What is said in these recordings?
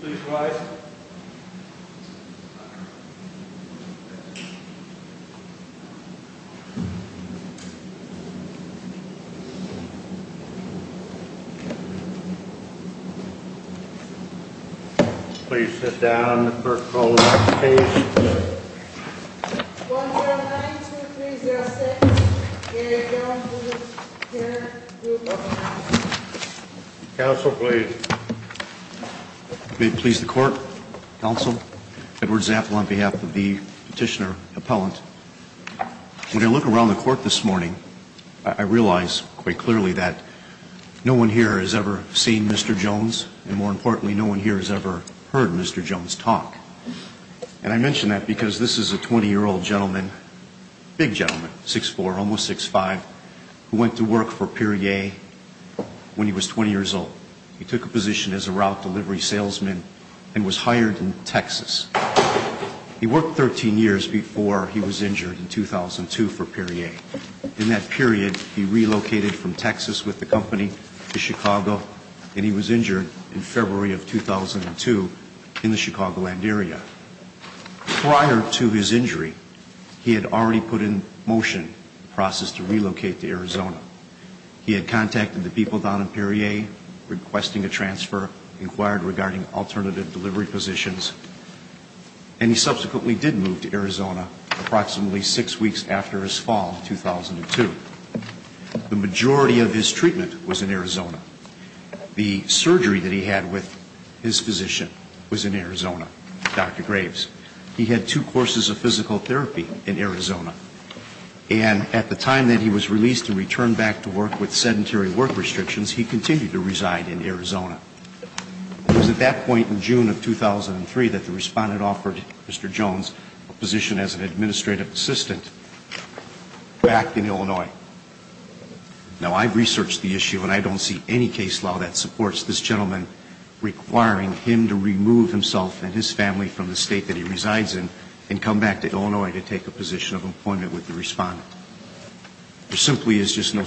Please rise. Please sit down for the call to action stage. 1-0-9-2-3-0-6. 2-0-9-2-3-0-6. 3-0-9-2-3-0. Please sit down for the call to action stage. Please sit down for the call to action stage. There simply is just no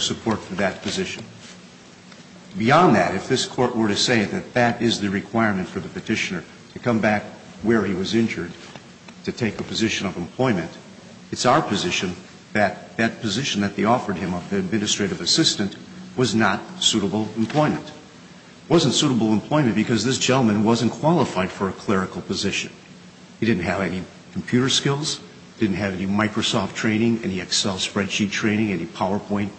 support for that position. Beyond that, if this Court were to say that that is the requirement for the Petitioner to come back where he was injured to take a position of employment, it's our position that that position that they offered him of the administrative assistant was not suitable employment. It wasn't suitable employment because this gentleman wasn't qualified for a clerical position. He didn't have any computer skills, didn't have any Microsoft training, any Excel spreadsheet training, any PowerPoint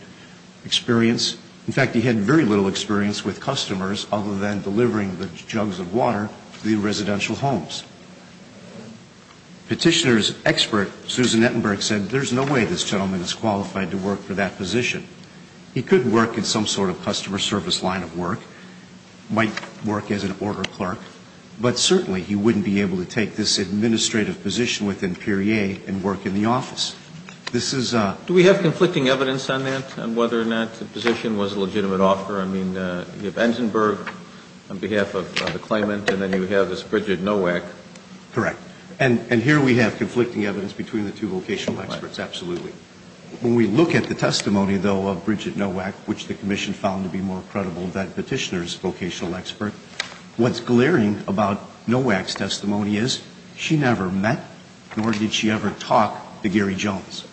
experience. In fact, he had very little experience with customers other than delivering the jugs of water to the residential Petitioner's expert, Susan Ettenberg, said there's no way this gentleman is qualified to work for that position. He could work in some sort of customer service line of work, might work as an order clerk, but certainly he wouldn't be able to take this administrative position within Peerier and work in the office. This is a ---- Do we have conflicting evidence on that, on whether or not the position was a legitimate offer? I mean, you have Ettenberg on behalf of the claimant, and then you have this Bridget Nowak. Correct. And here we have conflicting evidence between the two vocational experts, absolutely. When we look at the testimony, though, of Bridget Nowak, which the Commission found to be more credible than Petitioner's vocational expert, what's glaring about Nowak's testimony is she never met nor did she ever talk to Gary Jones.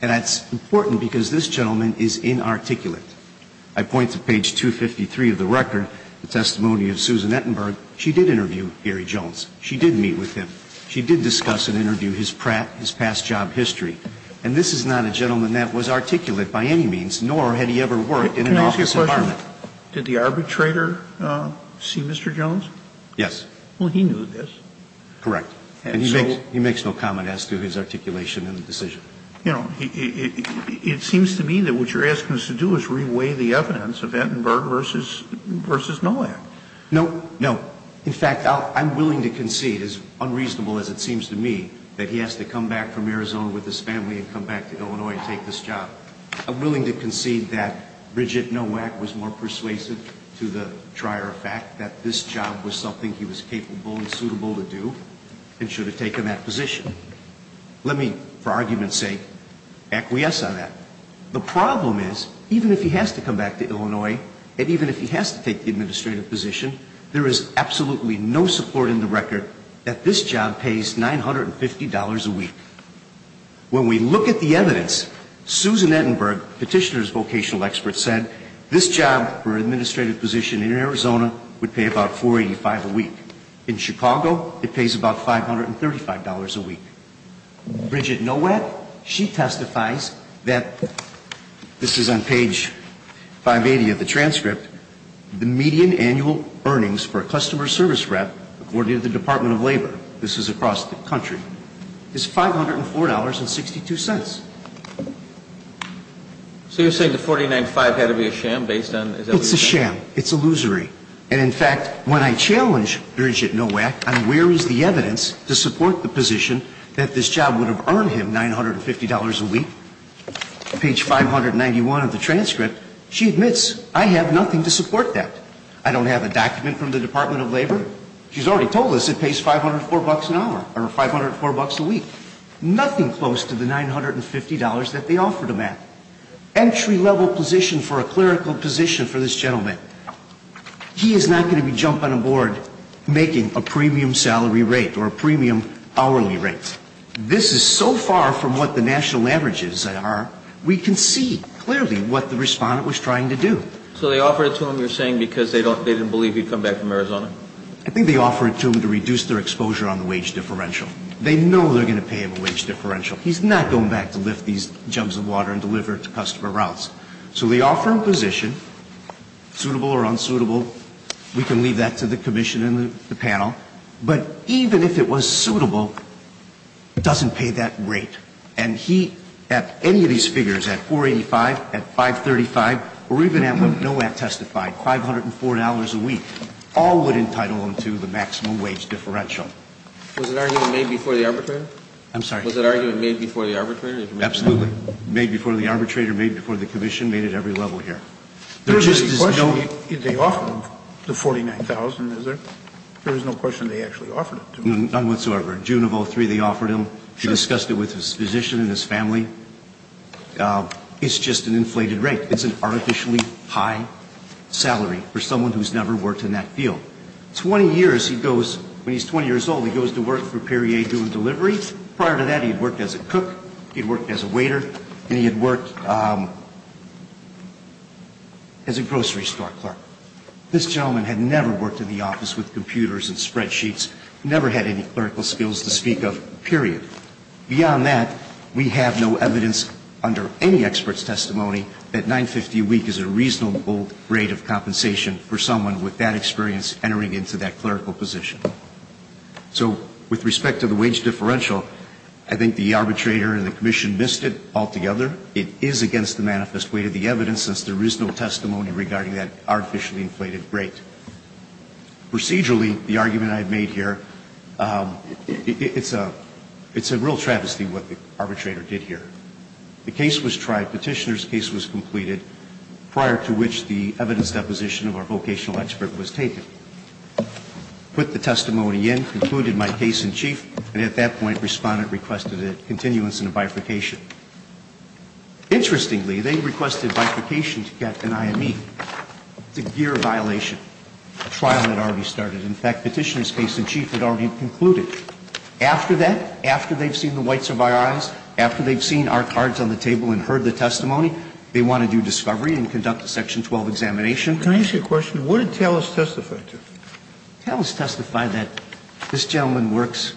And that's important because this gentleman is inarticulate. I point to page 253 of the record, the testimony of Susan Ettenberg. She did interview Gary Jones. She did meet with him. She did discuss and interview his prat, his past job history. And this is not a gentleman that was articulate by any means, nor had he ever worked in an office environment. Can I ask you a question? Did the arbitrator see Mr. Jones? Yes. Well, he knew this. Correct. And so? He makes no comment as to his articulation in the decision. You know, it seems to me that what you're asking us to do is reweigh the evidence of Ettenberg versus Nowak. No, no. In fact, I'm willing to concede, as unreasonable as it seems to me, that he has to come back from Arizona with his family and come back to Illinois and take this job. I'm willing to concede that Bridget Nowak was more persuasive to the trier fact that this job was something he was capable and suitable to do and should have taken that position. Let me, for argument's sake, acquiesce on that. The problem is, even if he has to come back to Illinois, and even if he has to take the administrative position, there is absolutely no support in the record that this job pays $950 a week. When we look at the evidence, Susan Ettenberg, petitioner's vocational expert, said this job for an administrative position in Arizona would pay about $485 a week. In Chicago, it pays about $535 a week. Bridget Nowak, she testifies that, this is on page 580 of the transcript, the median annual earnings for a customer service rep, according to the Department of Labor, this is across the country, is $504.62. So you're saying the $49.5 had to be a sham based on It's a sham. It's illusory. And in fact, when I challenge Bridget Nowak on where is the evidence to support the position that this job would have earned him $950 a week, page 591 of the transcript, she admits, I have nothing to support that. I don't have a document from the Department of Labor. She's already told us it pays $504 a week. Nothing close to the $950 that they offered a man. Entry-level position for a clerical position for this gentleman. He is not going to be jumping on a board making a premium salary rate or a premium hourly rate. This is so far from what the national averages are, we can see clearly what the respondent was trying to do. I think they offered it to him to reduce their exposure on the wage differential. They know they're going to pay him a wage differential. He's not going back to lift these jugs of water and deliver it to customer routes. So they offer him a position, suitable or unsuitable, we can leave that to the commission and the panel. But even if it was suitable, it doesn't pay that rate. And he, at any of these figures, at $485, at $535, or even at what Nowak testified, $504 a week, all would entitle him to the maximum wage differential. Was that argument made before the arbitrator? I'm sorry? Was that argument made before the arbitrator? Absolutely. Made before the arbitrator, made before the commission, made at every level here. There was no question they offered him the $49,000, is there? There was no question they actually offered it to him. None whatsoever. In June of 2003, they offered him. He discussed it with his physician and his family. It's just an inflated rate. It's an artificially high salary for someone who's never worked in that field. Twenty years, he goes, when he's 20 years old, he goes to work for Perrier doing deliveries. Prior to that, he had worked as a cook, he had worked as a waiter, and he had worked as a grocery store clerk. This gentleman had never worked in the office with computers and spreadsheets, never had any clerical skills to speak of, period. Beyond that, we have no evidence under any expert's compensation for someone with that experience entering into that clerical position. So with respect to the wage differential, I think the arbitrator and the commission missed it altogether. It is against the manifest weight of the evidence, since there is no testimony regarding that artificially inflated rate. Procedurally, the argument I've made here, it's a real travesty what the arbitrator did here. The case was tried, Petitioner's case was completed, prior to which the evidence deposition of our vocational expert was taken. Put the testimony in, concluded my case in chief, and at that point, Respondent requested a continuance and a bifurcation. Interestingly, they requested bifurcation to get an IME. It's a gear violation. A trial had already started. In fact, Petitioner's case in chief had already concluded. After that, after they've seen the whites of our eyes, after they've seen our cards on the table and heard the testimony, they want to do discovery and conduct a section 12 examination. Can I ask you a question? What did Tellis testify to? Tellis testified that this gentleman works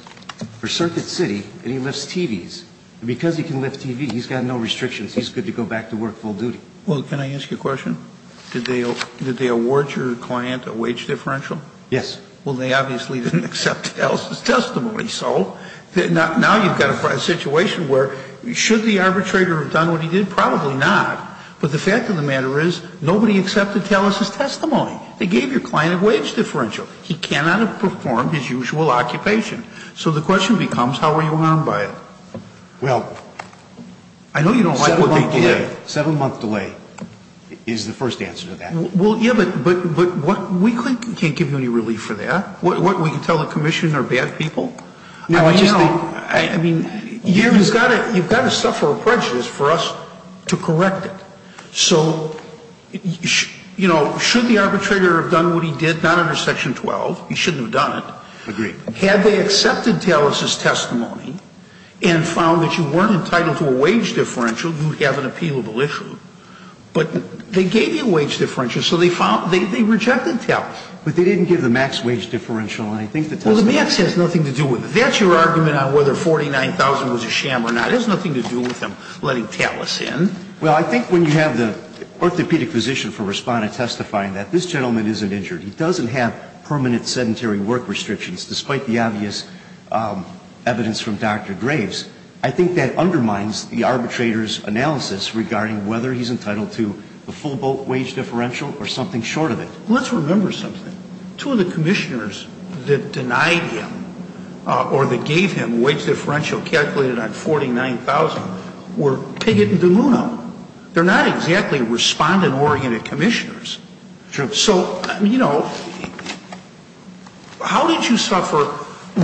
for Circuit City and he lifts TVs. And because he can lift TVs, he's got no restrictions. He's good to go back to work full duty. Well, can I ask you a question? Did they award your client a wage differential? Yes. Well, they obviously didn't accept Tellis' testimony. Well, I don't think so. Now you've got a situation where, should the arbitrator have done what he did? Probably not. But the fact of the matter is, nobody accepted Tellis' testimony. They gave your client a wage differential. He cannot have performed his usual occupation. So the question becomes, how are you harmed by it? Well, 7-month delay. I know you don't like what they did. 7-month delay is the first answer to that. Well, yes, but we can't give you any relief for that. We can tell the commission they're bad people. I mean, you've got to suffer a prejudice for us to correct it. So, you know, should the arbitrator have done what he did? Not under Section 12. He shouldn't have done it. Agreed. Had they accepted Tellis' testimony and found that you weren't entitled to a wage differential, you'd have an appealable issue. But they gave you a wage differential so they rejected Tellis. But they didn't give the max wage differential. Well, the max has nothing to do with it. That's your argument on whether 49,000 was a sham or not. It has nothing to do with them letting Tellis in. Well, I think when you have the orthopedic physician for Respondent testifying that this gentleman isn't injured, he doesn't have permanent sedentary work restrictions, despite the obvious evidence from Dr. Graves, I think that undermines the arbitrator's analysis regarding whether he's entitled to the full boat wage differential or something short of it. Let's remember something. Two of the commissioners that denied him or that gave him a wage differential calculated on 49,000 were Piggott and DeLuna. They're not exactly Respondent-oriented commissioners. Sure. So, you know, how did you suffer?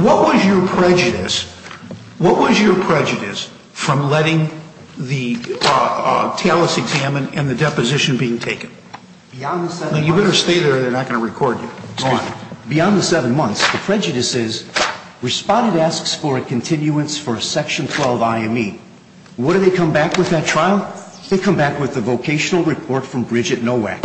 What was your prejudice? What was your prejudice from letting the Tellis exam and the deposition being taken? You better stay there or they're not going to record you. Go on. Beyond the seven months, the prejudice is Respondent asks for a continuance for Section 12 IME. What do they come back with at trial? They come back with the vocational report from Bridget Nowak.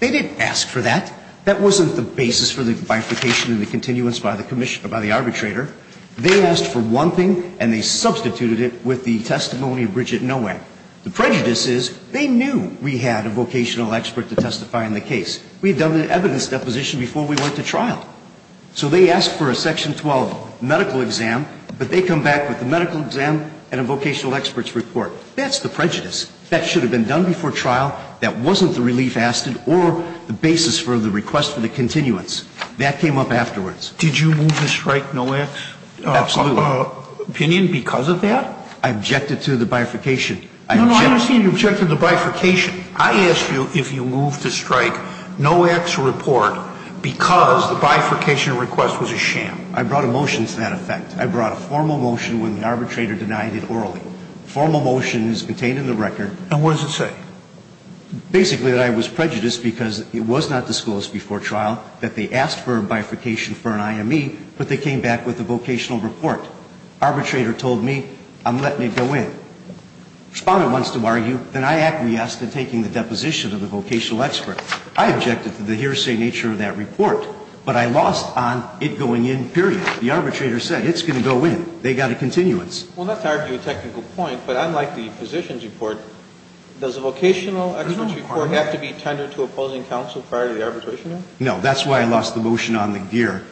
They didn't ask for that. That wasn't the basis for the bifurcation and the continuance by the arbitrator. They asked for one thing and they substituted it with the testimony of Bridget Nowak. The prejudice is they knew we had a vocational expert to testify on the case. We had done the evidence deposition before we went to trial. So they asked for a Section 12 medical exam, but they come back with the medical exam and a vocational expert's report. That's the prejudice. That should have been done before trial. That wasn't the relief asked for or the basis for the request for the continuance. That came up afterwards. Did you move to strike Nowak? Absolutely. Opinion because of that? I objected to the bifurcation. No, no. I understand you objected to the bifurcation. I asked you if you moved to strike Nowak's report because the bifurcation request was a sham. I brought a motion to that effect. I brought a formal motion when the arbitrator denied it orally. The formal motion is contained in the record. And what does it say? Basically that I was prejudiced because it was not disclosed before trial that they asked for a bifurcation for an IME, but they came back with a vocational report. Arbitrator told me, I'm letting it go in. Respondent wants to argue, then I acquiesce to taking the deposition of the vocational expert. I objected to the hearsay nature of that report, but I lost on it going in, period. The arbitrator said it's going to go in. They got a continuance. Well, not to argue a technical point, but unlike the physician's report, does a vocational expert's report have to be tendered to opposing counsel prior to the arbitration hearing? No. That's why I lost the motion on the gear.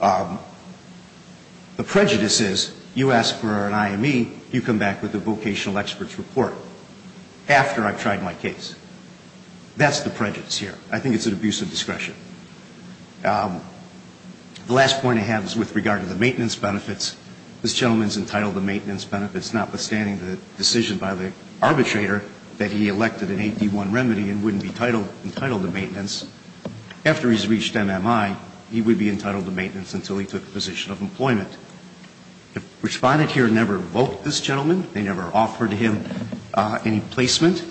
The prejudice is you ask for an IME, you come back with a vocational expert's report after I've tried my case. That's the prejudice here. I think it's an abuse of discretion. The last point I have is with regard to the maintenance benefits. This gentleman is entitled to maintenance benefits, notwithstanding the decision by the arbitrator that he elected an AD1 remedy and wouldn't be entitled to maintenance. After he's reached MMI, he would be entitled to maintenance until he took the position of employment. The Respondent here never invoked this gentleman. They never offered him any placement.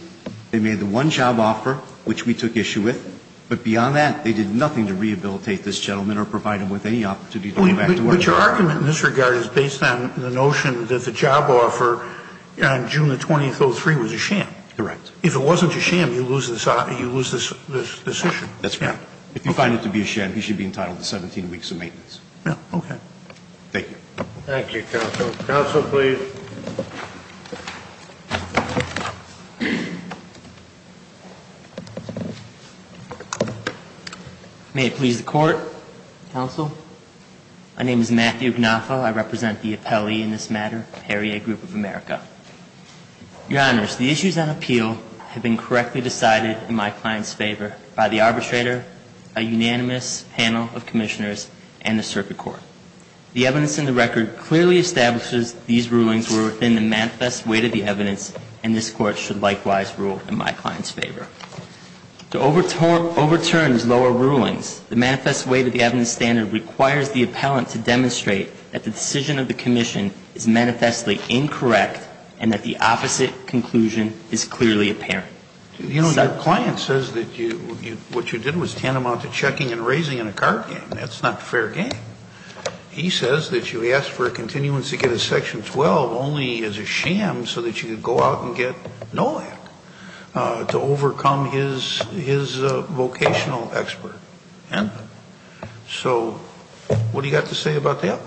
They made the one job offer, which we took issue with. But beyond that, they did nothing to rehabilitate this gentleman or provide him with any opportunity to go back to work. But your argument in this regard is based on the notion that the job offer on June 20, 2003, was a sham. Correct. If it wasn't a sham, you lose this decision. That's correct. If you find it to be a sham, he should be entitled to 17 weeks of maintenance. Okay. Thank you. Thank you, counsel. Counsel, please. May it please the Court. Counsel. My name is Matthew Gnafa. I represent the appellee in this matter, Perrier Group of America. Your Honors, the issues on appeal have been correctly decided in my client's favor by the arbitrator, a unanimous panel of commissioners, and the circuit court. The evidence in the record clearly establishes these rulings were within the manifest weight of the evidence, and this Court should likewise rule in my client's favor. To overturn these lower rulings, the manifest weight of the evidence standard requires the appellant to demonstrate that the decision of the commission is manifestly incorrect and that the opposite conclusion is clearly apparent. You know, your client says that what you did was tantamount to checking and raising in a card game. That's not fair game. He says that you asked for a continuance to get a Section 12 only as a sham so that you could go out and get NOLAC to overcome his vocational expert. And so what do you have to say about that?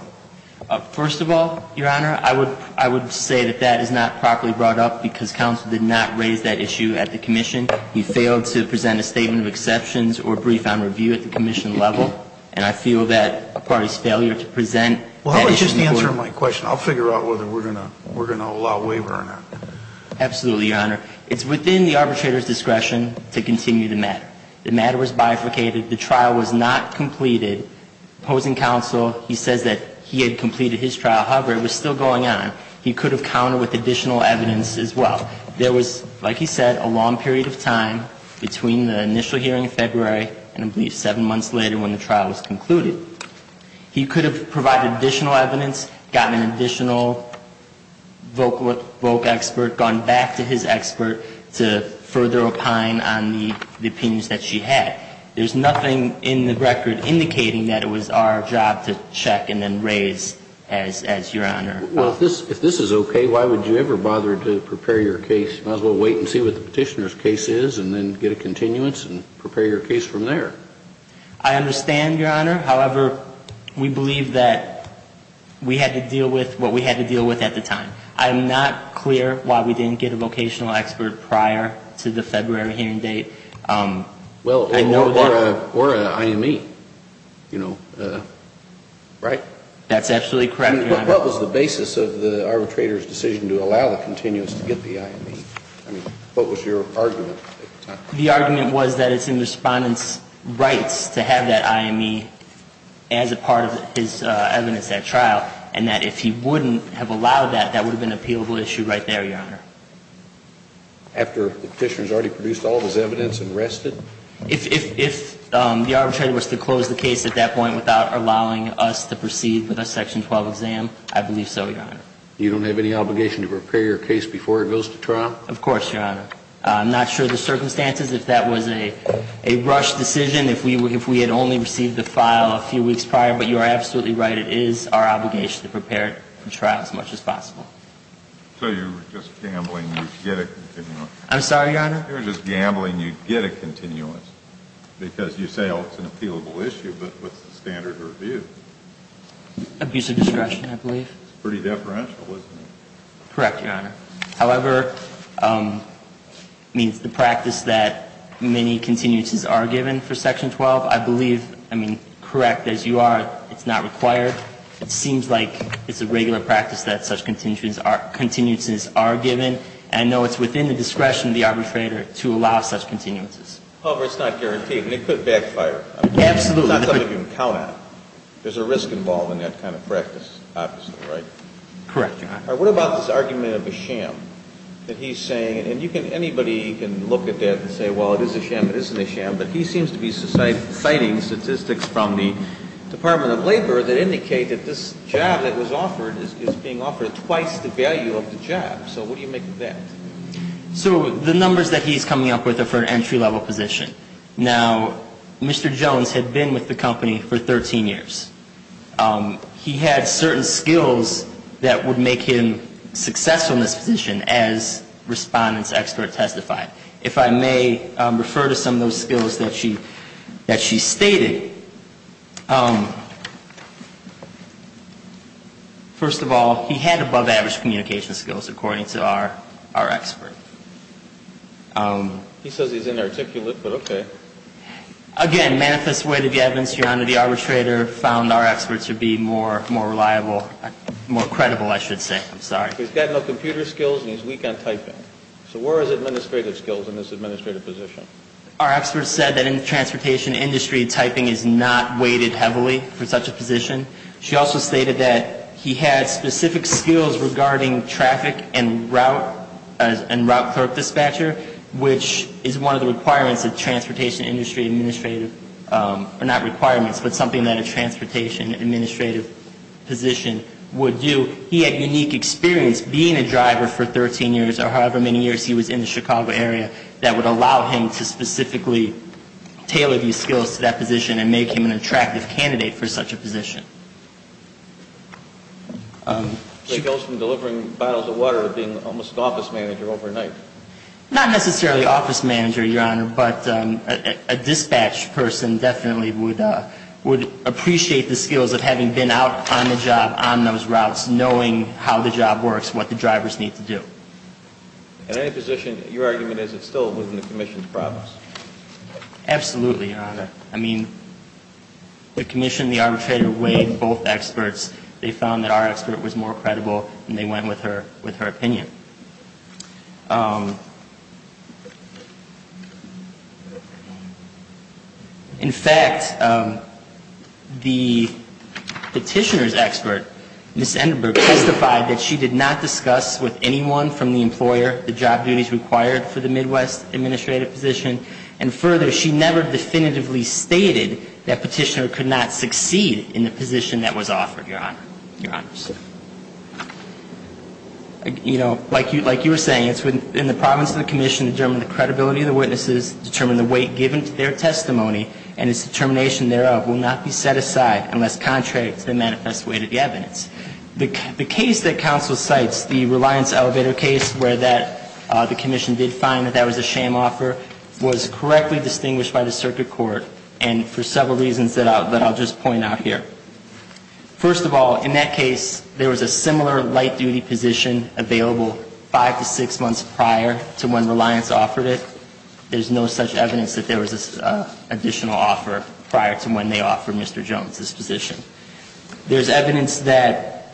First of all, your Honor, I would say that that is not properly brought up because counsel did not raise that issue at the commission. He failed to present a statement of exceptions or a brief on review at the commission level, and I feel that a party's failure to present that issue in court. Well, how about just answering my question. I'll figure out whether we're going to allow waiver or not. Absolutely, your Honor. It's within the arbitrator's discretion to continue the matter. The matter was bifurcated. The trial was not completed. Opposing counsel, he says that he had completed his trial. However, it was still going on. He could have counted with additional evidence as well. There was, like he said, a long period of time between the initial hearing in February and I believe seven months later when the trial was concluded. He could have provided additional evidence, gotten an additional voc expert, gone back to his expert to further opine on the opinions that she had. There's nothing in the record indicating that it was our job to check and then raise as your Honor. Well, if this is okay, why would you ever bother to prepare your case? You might as well wait and see what the Petitioner's case is and then get a continuance and prepare your case from there. I understand, your Honor. However, we believe that we had to deal with what we had to deal with at the time. I'm not clear why we didn't get a vocational expert prior to the February hearing date. Well, or an IME, you know, right? That's absolutely correct, your Honor. What was the basis of the arbitrator's decision to allow the continuance to get the IME? I mean, what was your argument at the time? The argument was that it's in the Respondent's rights to have that IME as a part of his case, and that if he wouldn't have allowed that, that would have been an appealable issue right there, your Honor. After the Petitioner's already produced all of his evidence and rested? If the arbitrator was to close the case at that point without allowing us to proceed with a Section 12 exam, I believe so, your Honor. You don't have any obligation to prepare your case before it goes to trial? Of course, your Honor. I'm not sure of the circumstances, if that was a rushed decision, if we had only received the file a few weeks prior, but you are absolutely right, it is our obligation to prepare it for trial as much as possible. So you're just gambling you'd get a continuance? I'm sorry, your Honor? You're just gambling you'd get a continuance, because you say, oh, it's an appealable issue, but what's the standard of review? Abusive discretion, I believe. It's pretty deferential, isn't it? Correct, your Honor. However, I mean, it's the practice that many continuances are given for Section 12. I believe, I mean, correct as you are, it's not required. It seems like it's a regular practice that such continuances are given. And I know it's within the discretion of the arbitrator to allow such continuances. However, it's not guaranteed, and it could backfire. Absolutely. It's not something you can count on. There's a risk involved in that kind of practice, obviously, right? Correct, your Honor. What about this argument of a sham that he's saying, and you can, anybody can look at that and say, well, it is a sham, it isn't a sham, but he seems to be citing statistics from the Department of Labor that indicate that this job that was offered is being offered twice the value of the job. So what do you make of that? So the numbers that he's coming up with are for an entry-level position. Now, Mr. Jones had been with the company for 13 years. He had certain skills that would make him successful in this position, as Respondent's expert testified. If I may refer to some of those skills that she stated, first of all, he had above-average communication skills, according to our expert. He says he's inarticulate, but okay. Again, manifest way to the evidence, your Honor, the arbitrator found our expert to be more reliable, more credible, I should say. I'm sorry. He's got no computer skills, and he's weak on typing. So where is administrative skills in this administrative position? Our expert said that in the transportation industry, typing is not weighted heavily for such a position. She also stated that he had specific skills regarding traffic and route clerk dispatcher, which is one of the requirements of transportation industry administrative or not requirements, but something that a transportation administrative position would do. He had unique experience being a driver for 13 years or however many years he was in the Chicago area that would allow him to specifically tailor these skills to that position and make him an attractive candidate for such a position. That goes from delivering bottles of water to being almost office manager overnight. Not necessarily office manager, your Honor, but a dispatch person definitely would appreciate the skills of having been out on the job on those routes. Knowing how the job works, what the drivers need to do. At any position, your argument is it still within the Commission's promise? Absolutely, your Honor. I mean, the Commission and the arbitrator weighed both experts. They found that our expert was more credible, and they went with her opinion. In fact, the Petitioner's expert, Ms. Endenburg, testified that she did not discuss with anyone from the employer the job duties required for the Midwest administrative position, and further, she never definitively stated that Petitioner could not succeed in the position that was offered, your Honor. Your Honor. You know, like you were saying, it's within the province of the Commission to determine the credibility of the witnesses, determine the weight given to their testimony, and its determination thereof will not be set aside unless contrary to the manifest weight of the evidence. The case that counsel cites, the Reliance Elevator case, where the Commission did find that that was a shame offer, was correctly distinguished by the circuit court, and for several reasons that I'll just point out here. First of all, in that case, there was a similar light-duty position available five to six months prior to when Reliance offered it. There's no such evidence that there was an additional offer prior to when they offered Mr. Jones this position. There's evidence that,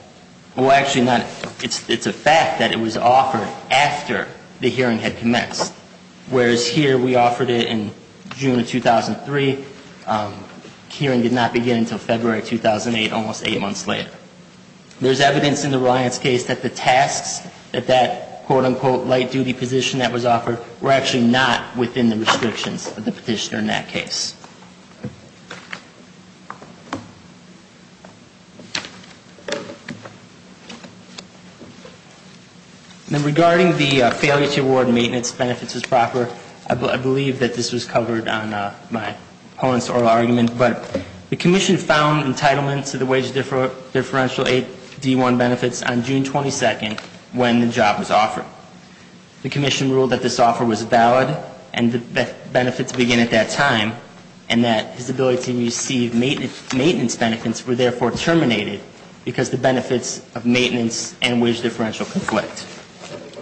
well, actually not, it's a fact that it was offered after the hearing had commenced, whereas here we offered it in June of 2003. The hearing did not begin until February of 2008, almost eight months later. There's evidence in the Reliance case that the tasks, that that quote-unquote light-duty position that was offered, were actually not within the restrictions of the Petitioner in that case. Now, regarding the failure to award maintenance benefits as proper, I believe that this was covered on my opponent's oral argument, but the Commission found entitlement to the wage differential 8D1 benefits on June 22nd when the job was offered. The Commission ruled that this offer was valid, and that benefits begin at that time. And that his ability to receive maintenance benefits were therefore terminated because the benefits of maintenance and wage differential conflict.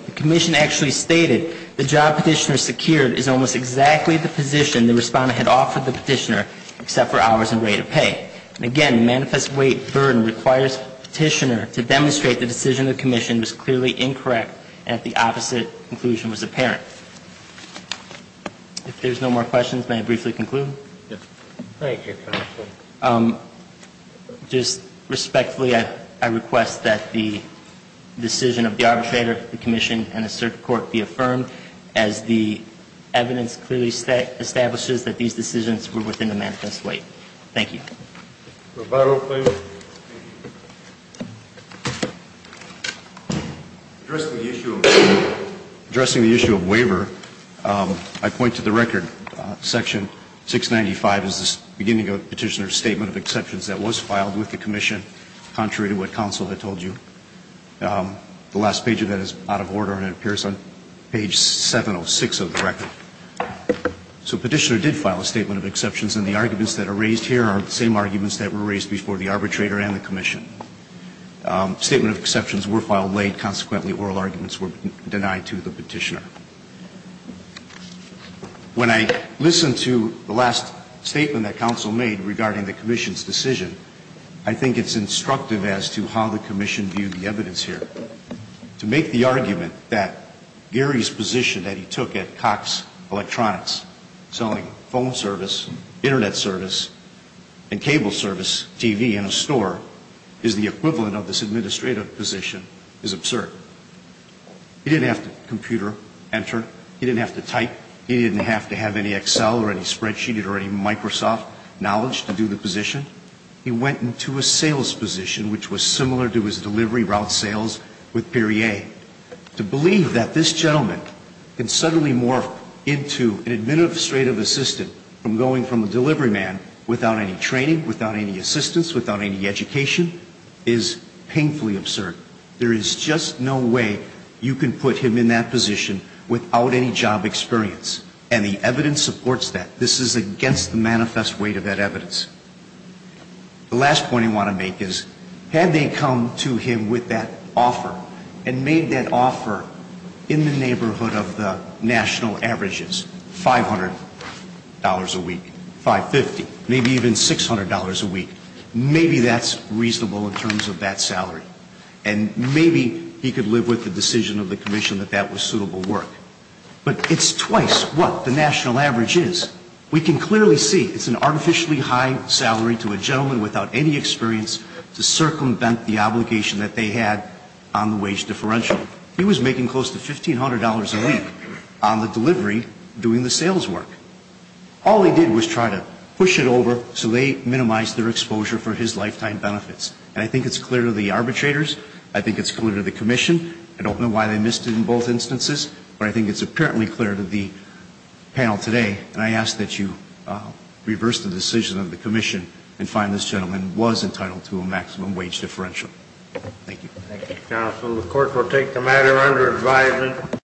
The Commission actually stated the job Petitioner secured is almost exactly the position the Respondent had offered the Petitioner, except for hours and rate of pay. And again, the manifest weight burden requires Petitioner to demonstrate the decision of the Commission was clearly incorrect, and that the opposite conclusion was apparent. If there's no more questions, may I briefly conclude? Yes. Thank you, Counsel. Just respectfully, I request that the decision of the arbitrator, the Commission, and the Circuit Court be affirmed as the evidence clearly establishes that these decisions were within the manifest weight. Thank you. Roberto, please. Thank you. Addressing the issue of waiver, I point to the record. Section 695 is the beginning of Petitioner's statement of exceptions that was filed with the Commission, contrary to what Counsel had told you. The last page of that is out of order, and it appears on page 706 of the record. So Petitioner did file a statement of exceptions, and the arguments that are raised here are the same arguments that were raised before the arbitrator and the Commission. Statement of exceptions were filed late. Consequently, oral arguments were denied to the Petitioner. When I listened to the last statement that Counsel made regarding the Commission's decision, I think it's instructive as to how the Commission viewed the evidence here. To make the argument that Gary's position that he took at Cox Electronics, selling phone service, Internet service, and cable service, TV, and a store is the equivalent of this administrative position is absurd. He didn't have to computer enter. He didn't have to type. He didn't have to have any Excel or any spreadsheet or any Microsoft knowledge to do the position. He went into a sales position, which was similar to his delivery route sales with Perrier, to believe that this gentleman can administrative assistant from going from a delivery man without any training, without any assistance, without any education, is painfully absurd. There is just no way you can put him in that position without any job experience. And the evidence supports that. This is against the manifest weight of that evidence. The last point I want to make is, had they come to him with that offer and made that offer in the neighborhood of the North Coast, maybe he could live with the national averages, $500 a week, $550, maybe even $600 a week. Maybe that's reasonable in terms of that salary. And maybe he could live with the decision of the Commission that that was suitable work. But it's twice what the national average is. We can clearly see it's an artificially high salary to a gentleman without any experience to circumvent the obligation that they had on the wage differential. He was making close to $1,500 a week on the delivery doing the sales work. All he did was try to push it over so they minimized their exposure for his lifetime benefits. And I think it's clear to the arbitrators. I think it's clear to the Commission. I don't know why they missed it in both instances. But I think it's apparently clear to the panel today. And I ask that you reverse the decision of the Commission and find this gentleman was entitled to a maximum wage differential. Thank you. Thank you, counsel. The court will take the matter under advisement.